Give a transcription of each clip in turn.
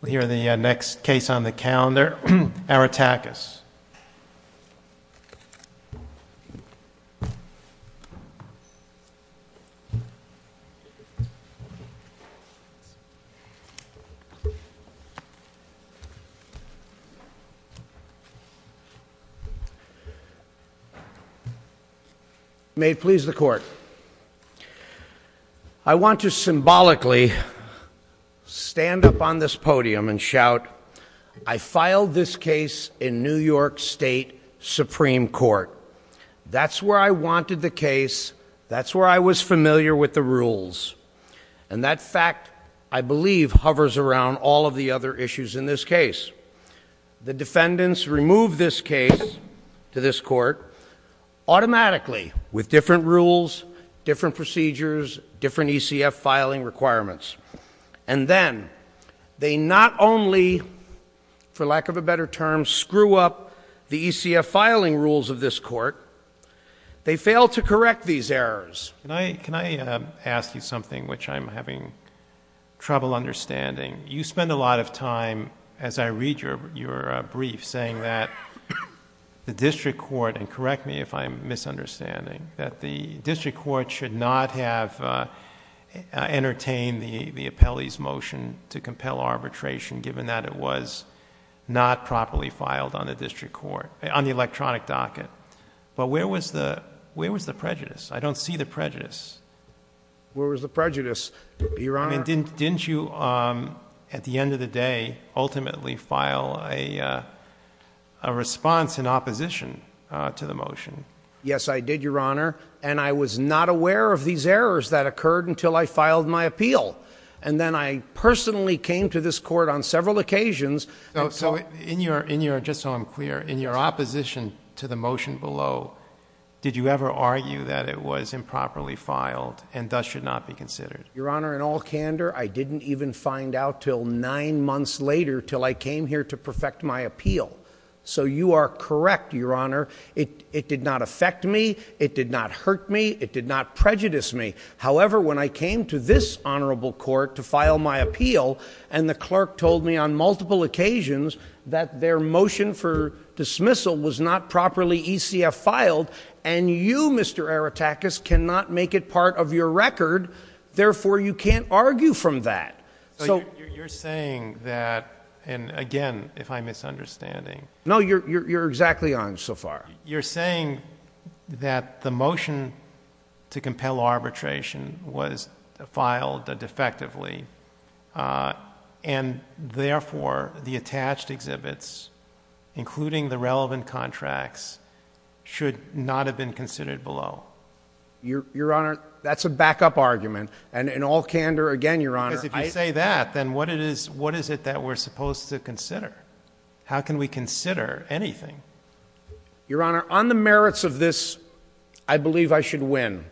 We hear the next case on the calendar, Aretakis. May it please the Court, I want to symbolically stand up on this podium and shout, I filed this case in New York State Supreme Court. That's where I wanted the case, that's where I was familiar with the rules. And that fact, I believe, hovers around all of the other issues in this case. The defendants remove this case to this Court automatically with different rules, different procedures, different ECF filing requirements. And then, they not only, for lack of a better term, screw up the ECF filing rules of this Court, they fail to correct these errors. Can I ask you something which I'm having trouble understanding? You spend a lot of time, as I read your brief, saying that the district court, and correct me, the appellee's motion to compel arbitration, given that it was not properly filed on the district court, on the electronic docket. But where was the prejudice? I don't see the prejudice. Where was the prejudice, Your Honor? Didn't you, at the end of the day, ultimately file a response in opposition to the motion? Yes, I did, Your Honor, and I was not aware of these errors that occurred until I filed my appeal. And then, I personally came to this Court on several occasions. So, in your, just so I'm clear, in your opposition to the motion below, did you ever argue that it was improperly filed and thus should not be considered? Your Honor, in all candor, I didn't even find out until nine months later, until I came here to perfect my appeal. So you are correct, Your Honor. It did not affect me. It did not hurt me. It did not prejudice me. However, when I came to this Honorable Court to file my appeal, and the clerk told me on multiple occasions that their motion for dismissal was not properly ECF filed, and you, Mr. Aratakis, cannot make it part of your record, therefore you can't argue from that. So, you're saying that, and again, if I'm misunderstanding. No, you're exactly on so far. You're saying that the motion to compel arbitration was filed defectively, and therefore, the attached exhibits, including the relevant contracts, should not have been considered below? Your, Your Honor, that's a backup argument. And in all candor, again, Your Honor, I— Because if you say that, then what is it that we're supposed to consider? How can we consider anything? Your Honor, on the merits of this, I believe I should win.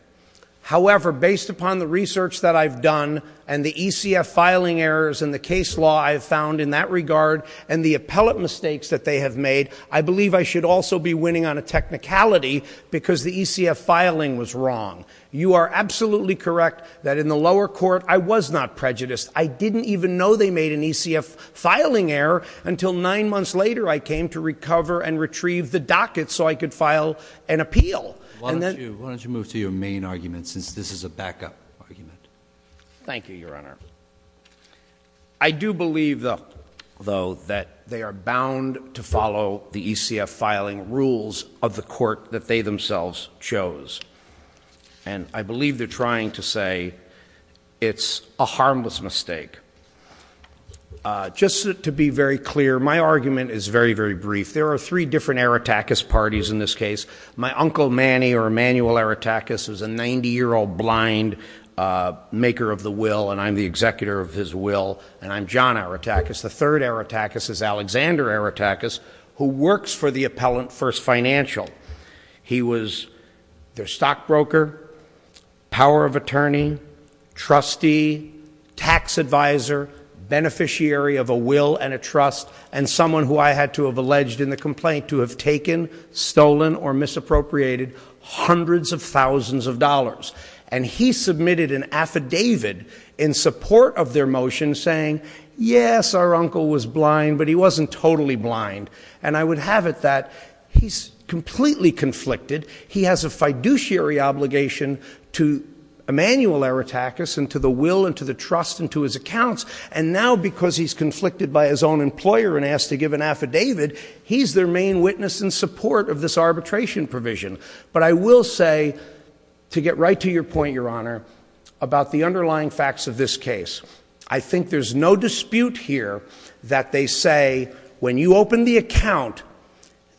However, based upon the research that I've done, and the ECF filing errors, and the case law I have found in that regard, and the appellate mistakes that they have made, I believe I should also be winning on a technicality, because the ECF filing was wrong. You are absolutely correct that in the lower court, I was not prejudiced. I didn't even know they made an ECF filing error until nine months later I came to recover and retrieve the docket so I could file an appeal. Why don't you move to your main argument, since this is a backup argument. Thank you, Your Honor. I do believe, though, that they are bound to follow the ECF filing rules of the court that they themselves chose. And I believe they're trying to say it's a harmless mistake. Just to be very clear, my argument is very, very brief. There are three different Erratakis parties in this case. My Uncle Manny, or Emanuel Erratakis, is a 90-year-old blind maker of the will, and I'm the executor of his will, and I'm John Erratakis. The third Erratakis is Alexander Erratakis, who works for the appellant, First Financial. He was their stockbroker, power of attorney, trustee, tax advisor, beneficiary of a will and a trust, and someone who I had to have alleged in the complaint to have taken, stolen, or misappropriated hundreds of thousands of dollars. And he submitted an affidavit in support of their motion saying, yes, our uncle was blind, but he wasn't totally blind. And I would have it that he's completely conflicted. He has a fiduciary obligation to Emanuel Erratakis and to the will and to the trust and to his accounts. And now, because he's conflicted by his own employer and asked to give an affidavit, he's their main witness in support of this arbitration provision. But I will say, to get right to your point, Your Honor, about the underlying facts of this case. I think there's no dispute here that they say, when you open the account,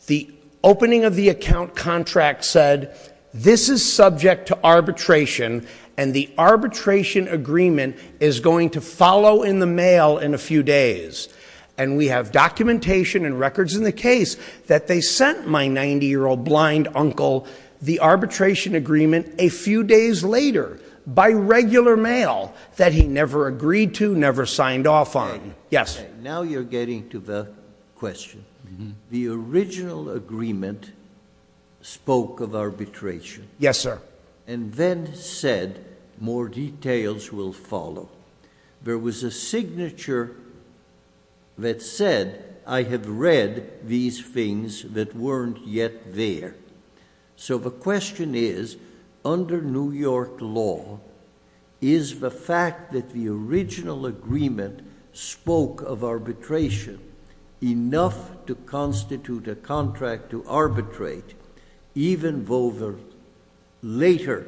the opening of the account contract said, this is subject to arbitration, and the arbitration agreement is going to follow in the mail in a few days. And we have documentation and records in the case that they sent my 90-year-old blind uncle the arbitration agreement a few days later by regular mail that he never agreed to, never signed off on. Yes. Now you're getting to the question. The original agreement spoke of arbitration. Yes, sir. And then said, more details will follow. There was a signature that said, I have read these things that weren't yet there. So the question is, under New York law, is the fact that the original agreement spoke of arbitration enough to constitute a contract to arbitrate, even though the later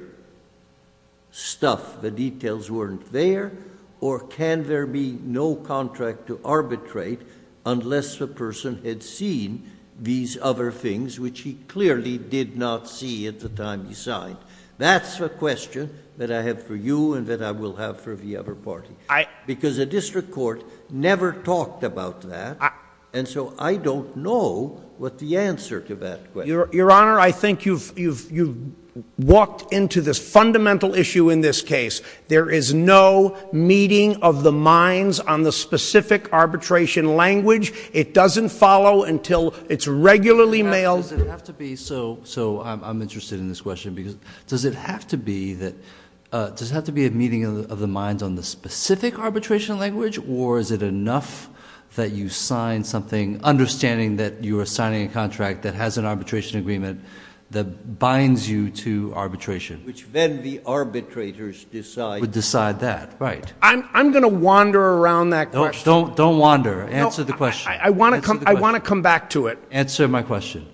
stuff, the details weren't there? Or can there be no contract to arbitrate unless the person had seen these other things, which he clearly did not see at the time he signed? That's the question that I have for you and that I will have for the other party. Because the district court never talked about that. And so I don't know what the answer to that question is. Your Honor, I think you've walked into this fundamental issue in this case. There is no meeting of the minds on the specific arbitration language. It doesn't follow until it's regularly mailed. So I'm interested in this question, because does it have to be a meeting of the minds on the specific arbitration language? Or is it enough that you signed something, understanding that you are signing a contract that has an arbitration agreement, that binds you to arbitration? Which then the arbitrators decide. Would decide that, right. I'm going to wander around that question. Don't wander. Answer the question. I want to come back to it. Answer my question.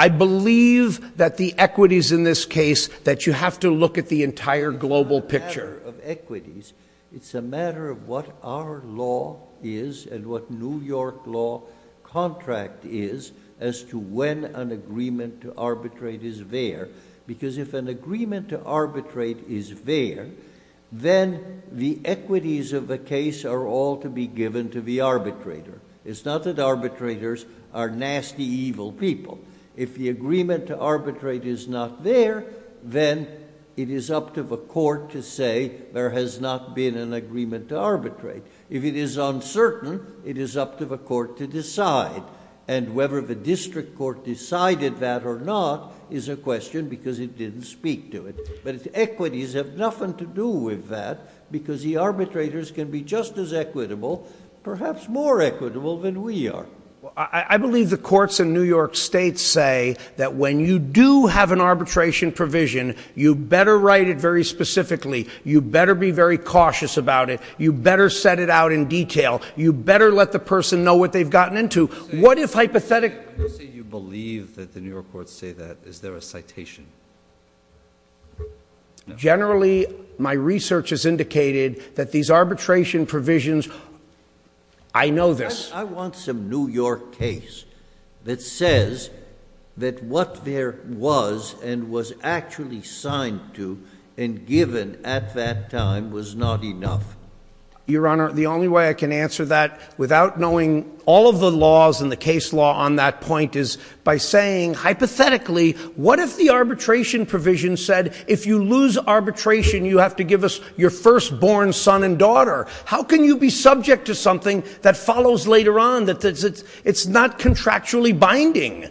I believe that the equities in this case, that you have to look at the entire global picture. It's not a matter of equities. It's a matter of what our law is, and what New York law contract is, as to when an agreement to arbitrate is there. Because if an agreement to arbitrate is there, then the equities of the case are all to be given to the arbitrator. It's not that arbitrators are nasty, evil people. If the agreement to arbitrate is not there, then it is up to the court to say there has not been an agreement to arbitrate. If it is uncertain, it is up to the court to decide. And whether the district court decided that or not is a question, because it didn't speak to it. But its equities have nothing to do with that, because the arbitrators can be just as equitable, perhaps more equitable than we are. I believe the courts in New York state say that when you do have an arbitration provision, you better write it very specifically. You better be very cautious about it. You better set it out in detail. You better let the person know what they've gotten into. What if hypothetically... When you say you believe that the New York courts say that, is there a citation? No. Generally, my research has indicated that these arbitration provisions... I know this. I want some New York case that says that what there was and was actually signed to and given at that time was not enough. Your Honor, the only way I can answer that without knowing all of the laws and the case law on that point is by saying, hypothetically, what if the arbitration provision said, if you lose arbitration, you have to give us your firstborn son and daughter? How can you be subject to something that follows later on? It's not contractually binding.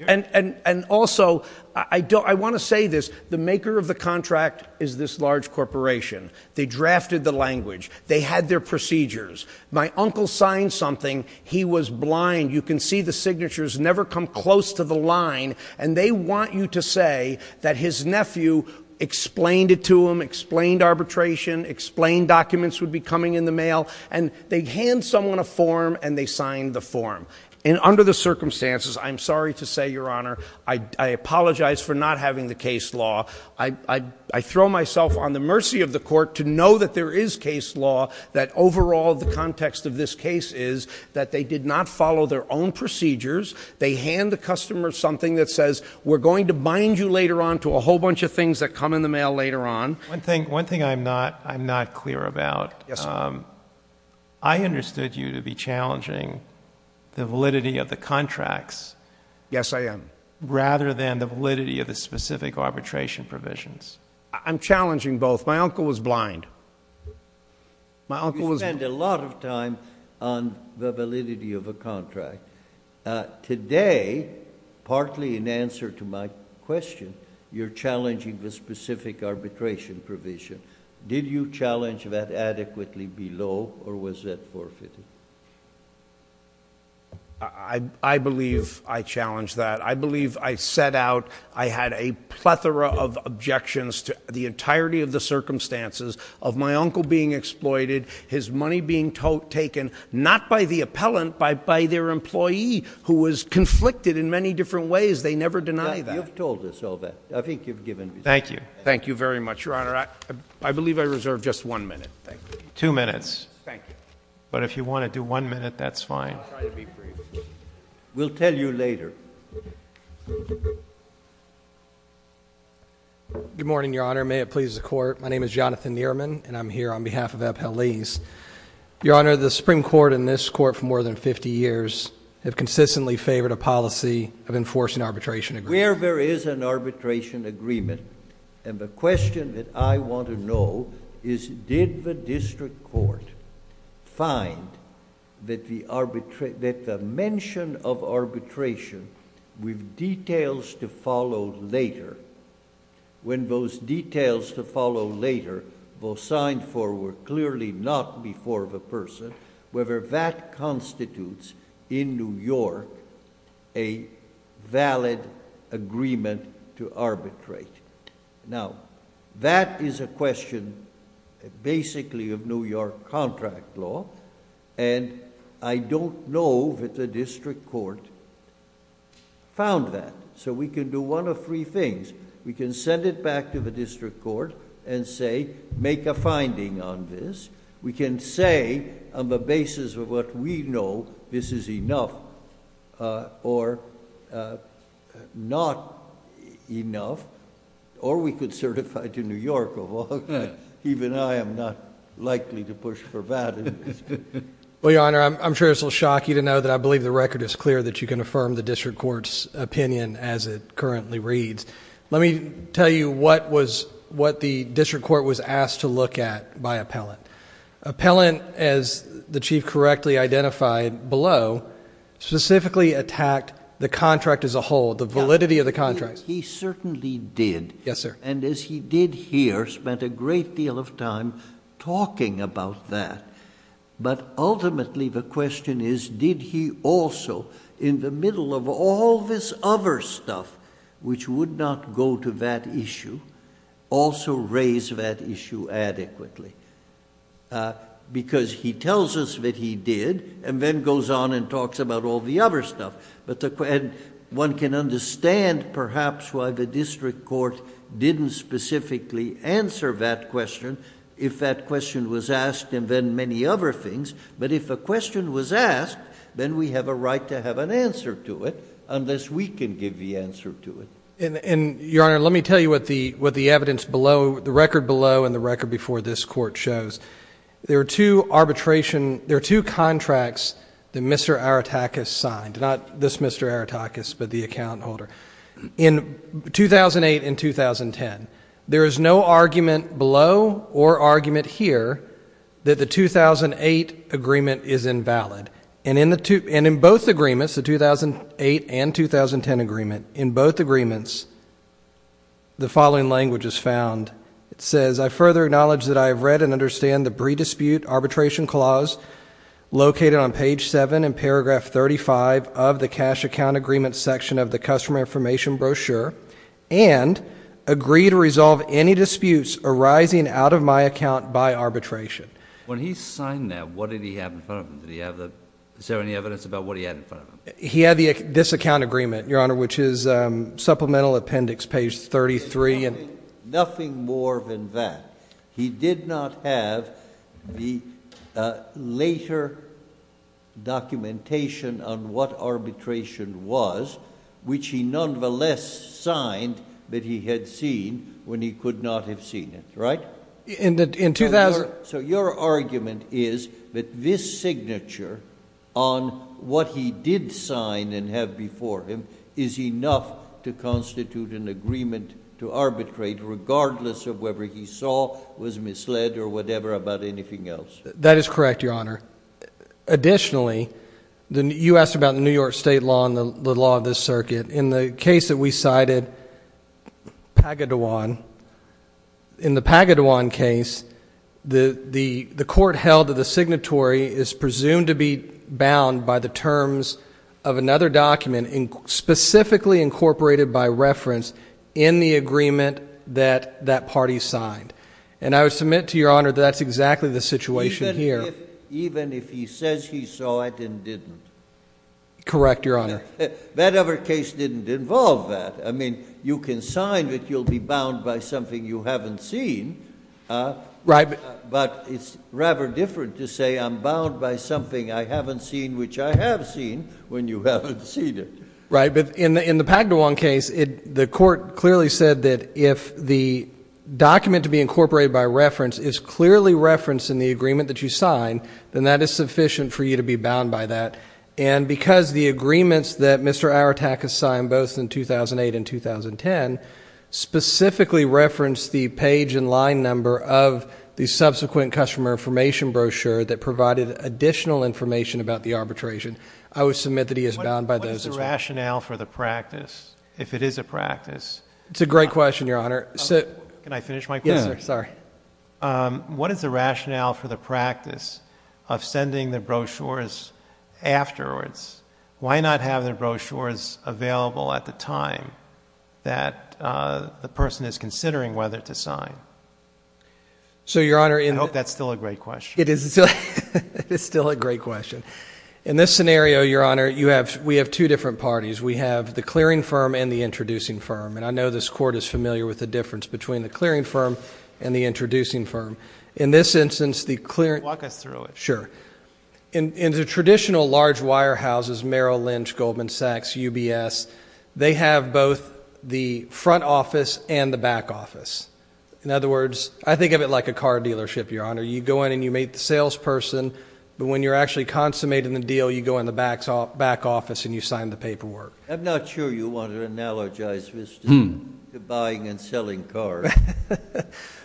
And also, I want to say this, the maker of the contract is this large corporation. They drafted the language. They had their procedures. My uncle signed something. He was blind. You can see the signatures never come close to the line. And they want you to say that his nephew explained it to him, explained arbitration, explained documents would be coming in the mail. And they hand someone a form, and they sign the form. And under the circumstances, I'm sorry to say, Your Honor, I apologize for not having the case law. I throw myself on the mercy of the court to know that there is case law, that overall the context of this case is that they did not follow their own procedures. They hand the customer something that says, we're going to bind you later on to a whole bunch of things that come in the mail later on. One thing I'm not clear about, I understood you to be challenging the validity of the contracts. Yes, I am. Rather than the validity of the specific arbitration provisions. I'm challenging both. My uncle was blind. My uncle was blind. You spend a lot of time on the validity of a contract. Today, partly in answer to my question, you're challenging the specific arbitration provision. Did you challenge that adequately below, or was that forfeited? I believe I challenged that. I believe I set out, I had a plethora of objections to the entirety of the circumstances of my was conflicted in many different ways. They never deny that. You've told us all that. I think you've given me that. Thank you. Thank you very much, Your Honor. I believe I reserve just one minute. Two minutes. Thank you. But if you want to do one minute, that's fine. We'll tell you later. Good morning, Your Honor. May it please the court. My name is Jonathan Neerman, and I'm here on behalf of Abhel Lees. Your Honor, the Supreme Court and this court for more than 50 years have consistently favored a policy of enforcing arbitration agreements. Where there is an arbitration agreement, and the question that I want to know is, did the district court find that the mention of arbitration with details to follow later, when those details to follow later were signed for were clearly not before the person, whether that constitutes in New York a valid agreement to arbitrate. Now, that is a question basically of New York contract law, and I don't know that the district court found that. So we can do one of three things. We can send it back to the district court and say, make a finding on this. We can say, on the basis of what we know, this is enough or not enough, or we could certify to New York of all... even I am not likely to push for that. Well, Your Honor, I'm sure it's a little shocking to know that I believe the record is clear that you can affirm the district court's opinion as it currently reads. Let me tell you what the district court was asked to look at by appellant. Appellant, as the Chief correctly identified below, specifically attacked the contract as a whole, the validity of the contract. He certainly did, and as he did here, spent a great deal of time talking about that, but ultimately, the question is, did he also, in the middle of all this other stuff which would not go to that issue, also raise that issue adequately? Because he tells us that he did, and then goes on and talks about all the other stuff. One can understand perhaps why the district court didn't specifically answer that question if that question was asked, and then many other things, but if a question was asked, then we have a right to have an answer to it, unless we can give the answer to it. And, Your Honor, let me tell you what the evidence below, the record below and the record before this court shows. There are two arbitration... there are two contracts that Mr. Arutakis signed, not this Mr. Arutakis, but the account holder. In 2008 and 2010, there is no argument below or argument here that the 2008 agreement is invalid. And in both agreements, the 2008 and 2010 agreement, in both agreements, the following language is found. It says, I further acknowledge that I have read and understand the pre-dispute arbitration clause located on page 7 in paragraph 35 of the cash account agreement section of the customer information brochure, and agree to resolve any disputes arising out of my account by arbitration. When he signed that, what did he have in front of him? Did he have the... is there any evidence about what he had in front of him? He had this account agreement, Your Honor, which is supplemental appendix page 33. Nothing more than that. He did not have the later documentation on what arbitration was, which he nonetheless signed that he had seen when he could not have seen it, right? In the... So your argument is that this signature on what he did sign and have before him is enough to constitute an agreement to arbitrate regardless of whether he saw, was misled, or whatever about anything else? That is correct, Your Honor. Additionally, you asked about the New York State law and the law of this circuit. In the case that we cited, Pagadawan, in the Pagadawan case, the court held that the signatory is presumed to be bound by the terms of another document specifically incorporated by reference in the agreement that that party signed. And I would submit to Your Honor that that's exactly the situation here. Even if he says he saw it and didn't? Correct, Your Honor. That other case didn't involve that. I mean, you can sign, but you'll be bound by something you haven't seen. Right. But it's rather different to say I'm bound by something I haven't seen which I have seen when you haven't seen it. Right. But in the Pagadawan case, the court clearly said that if the document to be incorporated by reference is clearly referenced in the agreement that you signed, then that is sufficient for you to be bound by that. And because the agreements that Mr. Arataka signed both in 2008 and 2010 specifically referenced the page and line number of the subsequent customer information brochure that provided additional information about the arbitration, I would submit that he is bound by those as well. What is the rationale for the practice, if it is a practice? It's a great question, Your Honor. Can I finish my question? Yes, sir. Sorry. What is the rationale for the practice of sending the brochures afterwards? Why not have the brochures available at the time that the person is considering whether to sign? I hope that's still a great question. It is still a great question. In this scenario, Your Honor, we have two different parties. We have the clearing firm and the introducing firm. And I know this court is familiar with the difference between the clearing firm and the introducing firm. In this instance, the clearing— Walk us through it. Sure. In the traditional large wire houses, Merrill Lynch, Goldman Sachs, UBS, they have both the front office and the back office. In other words, I think of it like a car dealership, Your Honor. You go in and you meet the salesperson, but when you're actually consummating the deal, you go in the back office and you sign the paperwork. I'm not sure you want to analogize this to buying and selling cars.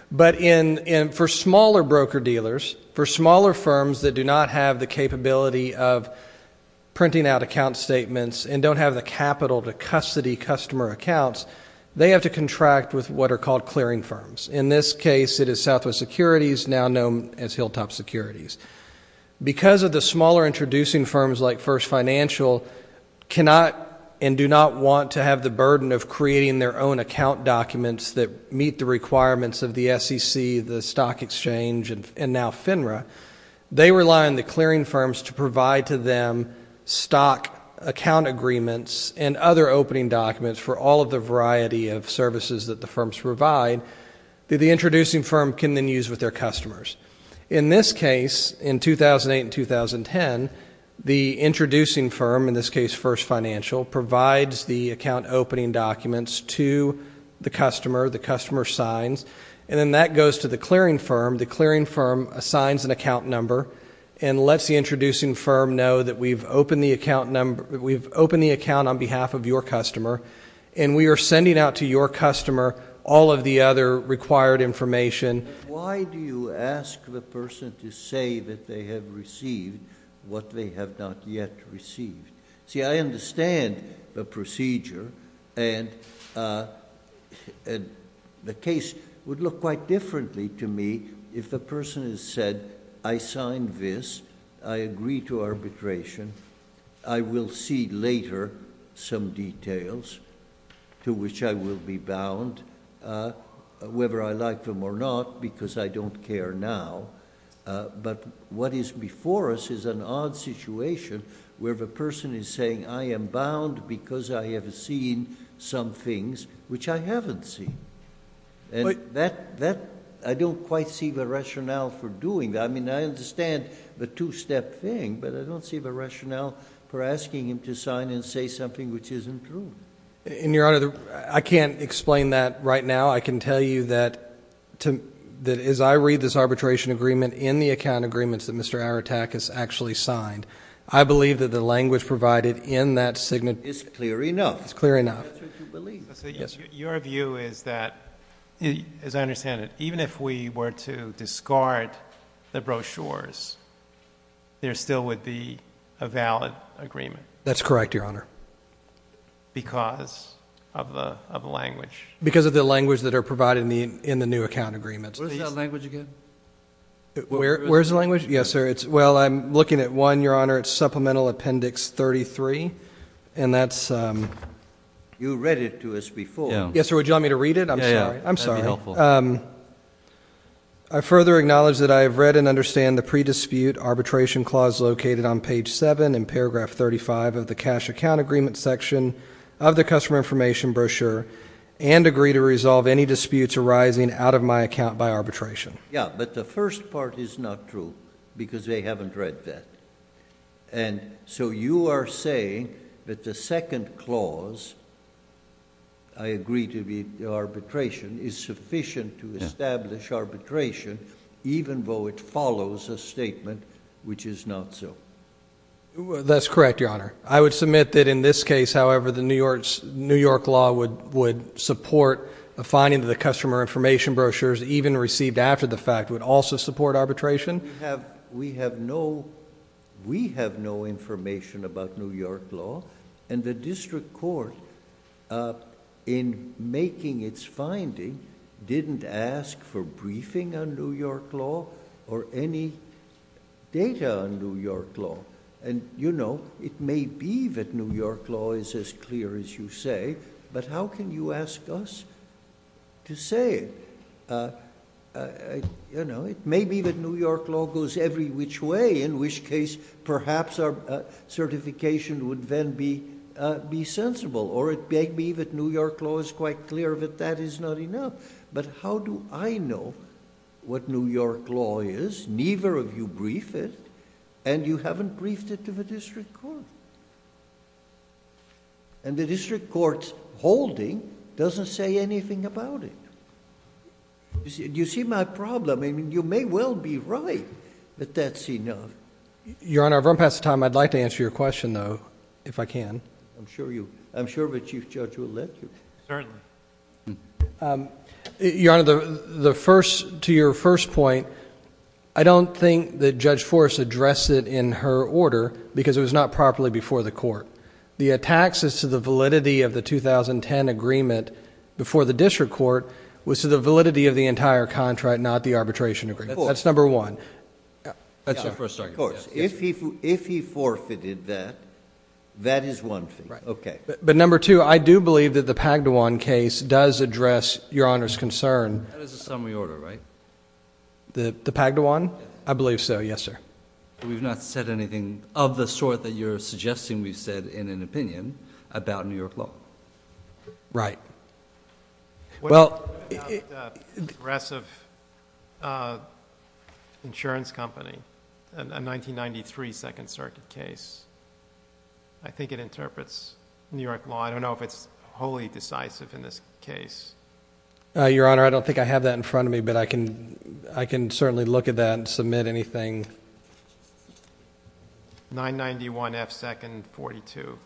But for smaller broker-dealers, for smaller firms that do not have the capability of printing out account statements and don't have the capital to custody customer accounts, they have to contract with what are called clearing firms. In this case, it is Southwest Securities, now known as Hilltop Securities. Because of the smaller introducing firms like First Financial cannot and do not want to have the burden of creating their own account documents that meet the requirements of the SEC, the Stock Exchange, and now FINRA, they rely on the clearing firms to provide to them stock account agreements and other opening documents for all of the variety of services that the firms provide that the introducing firm can then use with their customers. In this case, in 2008 and 2010, the introducing firm, in this case First Financial, provides the account opening documents to the customer, the customer signs, and then that goes to the clearing firm. The clearing firm assigns an account number and lets the introducing firm know that we've opened the account number, we've opened the account on behalf of your customer, and we are sending out to your customer all of the other required information. Why do you ask the person to say that they have received what they have not yet received? See, I understand the procedure, and the case would look quite differently to me if the person has said, I signed this, I agree to arbitration, I will see later some details to which I will be bound, whether I like them or not, because I don't care now. But what is before us is an odd situation where the person is saying, I am bound because I have seen some things which I haven't seen, and that, I don't quite see the rationale for doing that. I mean, I understand the two-step thing, but I don't see the rationale for asking him to sign and say something which isn't true. And Your Honor, I can't explain that right now. I can tell you that as I read this arbitration agreement in the account agreements that Mr. Aratakis actually signed, I believe that the language provided in that signature... It's clear enough. It's clear enough. That's what you believe. Yes, sir. So your view is that, as I understand it, even if we were to discard the brochures, there still would be a valid agreement? That's correct, Your Honor. Because of the language? Because of the language that are provided in the new account agreements. What is that language again? Where is the language? Yes, sir. Well, I'm looking at one, Your Honor. It's Supplemental Appendix 33, and that's... You read it to us before. Yes, sir. Would you want me to read it? I'm sorry. Yeah, yeah. That would be helpful. I further acknowledge that I have read and understand the pre-dispute arbitration clause located on page 7 in paragraph 35 of the cash account agreement section of the customer information brochure and agree to resolve any disputes arising out of my account by arbitration. Yeah, but the first part is not true because they haven't read that. And so you are saying that the second clause, I agree to be arbitration, is sufficient to establish arbitration even though it follows a statement which is not so. That's correct, Your Honor. I would submit that in this case, however, the New York law would support a finding that the customer information brochures, even received after the fact, would also support arbitration. We have no information about New York law, and the district court, in making its finding, didn't ask for briefing on New York law or any data on New York law. And you know, it may be that New York law is as clear as you say, but how can you ask us to say it? You know, it may be that New York law goes every which way, in which case, perhaps our certification would then be sensible. Or it may be that New York law is quite clear that that is not enough. But how do I know what New York law is? Neither of you briefed it, and you haven't briefed it to the district court. And the district court's holding doesn't say anything about it. You see my problem. I mean, you may well be right that that's enough. Your Honor, I've run past the time. I'd like to answer your question, though, if I can. I'm sure the Chief Judge will let you. Certainly. Your Honor, to your first point, I don't think that Judge Forrest addressed it in her order because it was not properly before the court. The attacks as to the validity of the 2010 agreement before the district court was to the validity of the entire contract, not the arbitration agreement. That's number one. That's your first argument. Of course. If he forfeited that, that is one thing. Okay. But number two, I do believe that the Pagdawan case does address Your Honor's concern... That is a summary order, right? The Pagdawan? I believe so. Yes, sir. We've not said anything of the sort that you're suggesting we've said in an opinion about New York law. Right. Well... What do you think about the aggressive insurance company, a 1993 Second Circuit case? I think it interprets New York law. I don't know if it's wholly decisive in this case. Your Honor, I don't think I have that in front of me, but I can certainly look at that and submit anything. 991 F. Second, 42. You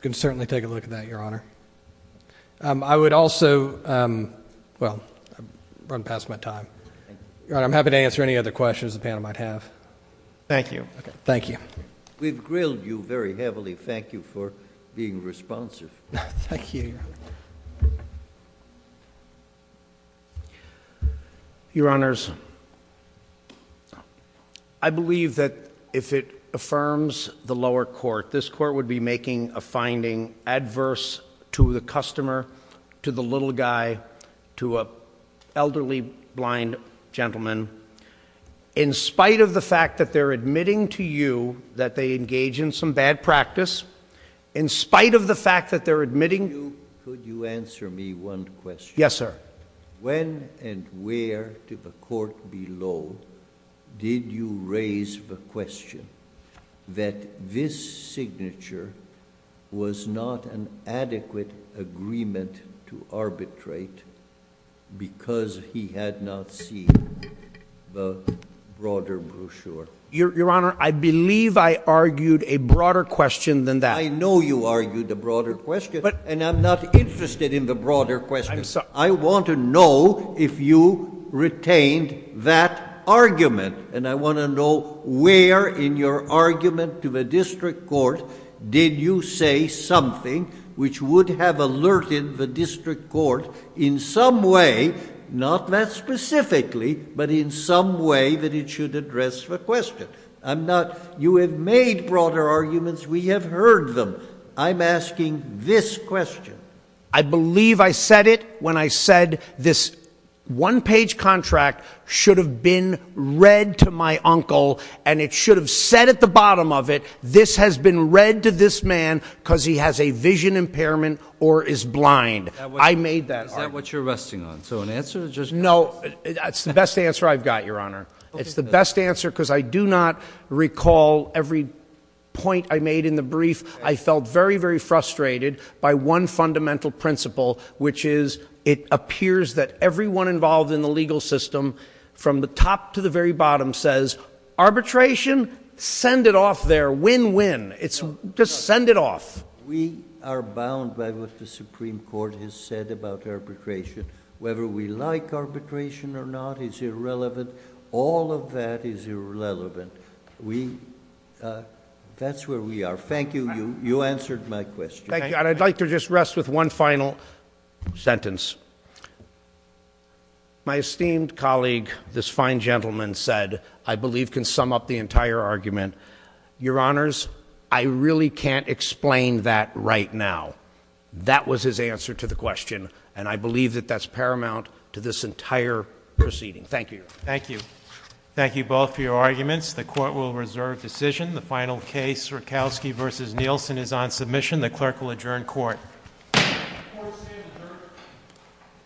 can certainly take a look at that, Your Honor. I would also... well, I've run past my time. Your Honor, I'm happy to answer any other questions the panel might have. Thank you. Thank you. We've grilled you very heavily. Thank you for being responsive. Thank you, Your Honor. Your Honors, I believe that if it affirms the lower court, this court would be making a finding adverse to the customer, to the little guy, to an elderly blind gentleman, in spite of the fact that they're admitting to you that they engage in some bad practice, in spite of the fact that they're admitting... Could you answer me one question? Yes, sir. When and where to the court below did you raise the question that this signature was not an adequate agreement to arbitrate because he had not seen the broader brochure? Your Honor, I believe I argued a broader question than that. I know you argued a broader question, and I'm not interested in the broader question. I want to know if you retained that argument, and I want to know where in your argument to the district court did you say something which would have alerted the district court in some way, not that specifically, but in some way that it should address the question. You have made broader arguments. We have heard them. I'm asking this question. I believe I said it when I said this one-page contract should have been read to my uncle, and it should have said at the bottom of it, this has been read to this man because he has a vision impairment or is blind. I made that argument. Is that what you're resting on? So an answer is just... No. That's the best answer I've got, Your Honor. It's the best answer because I do not recall every point I made in the brief. I felt very, very frustrated by one fundamental principle, which is it appears that everyone involved in the legal system from the top to the very bottom says, arbitration? Send it off there. Win-win. It's just send it off. We are bound by what the Supreme Court has said about arbitration. Whether we like arbitration or not is irrelevant. All of that is irrelevant. That's where we are. Thank you. You answered my question. Thank you. And I'd like to just rest with one final sentence. My esteemed colleague, this fine gentleman, said, I believe can sum up the entire argument. Your Honors, I really can't explain that right now. That was his answer to the question, and I believe that that's paramount to this entire proceeding. Thank you. Thank you. Thank you both for your arguments. The Court will reserve decision. The final case, Sierkowski v. Nielsen, is on submission. The Clerk will adjourn Court.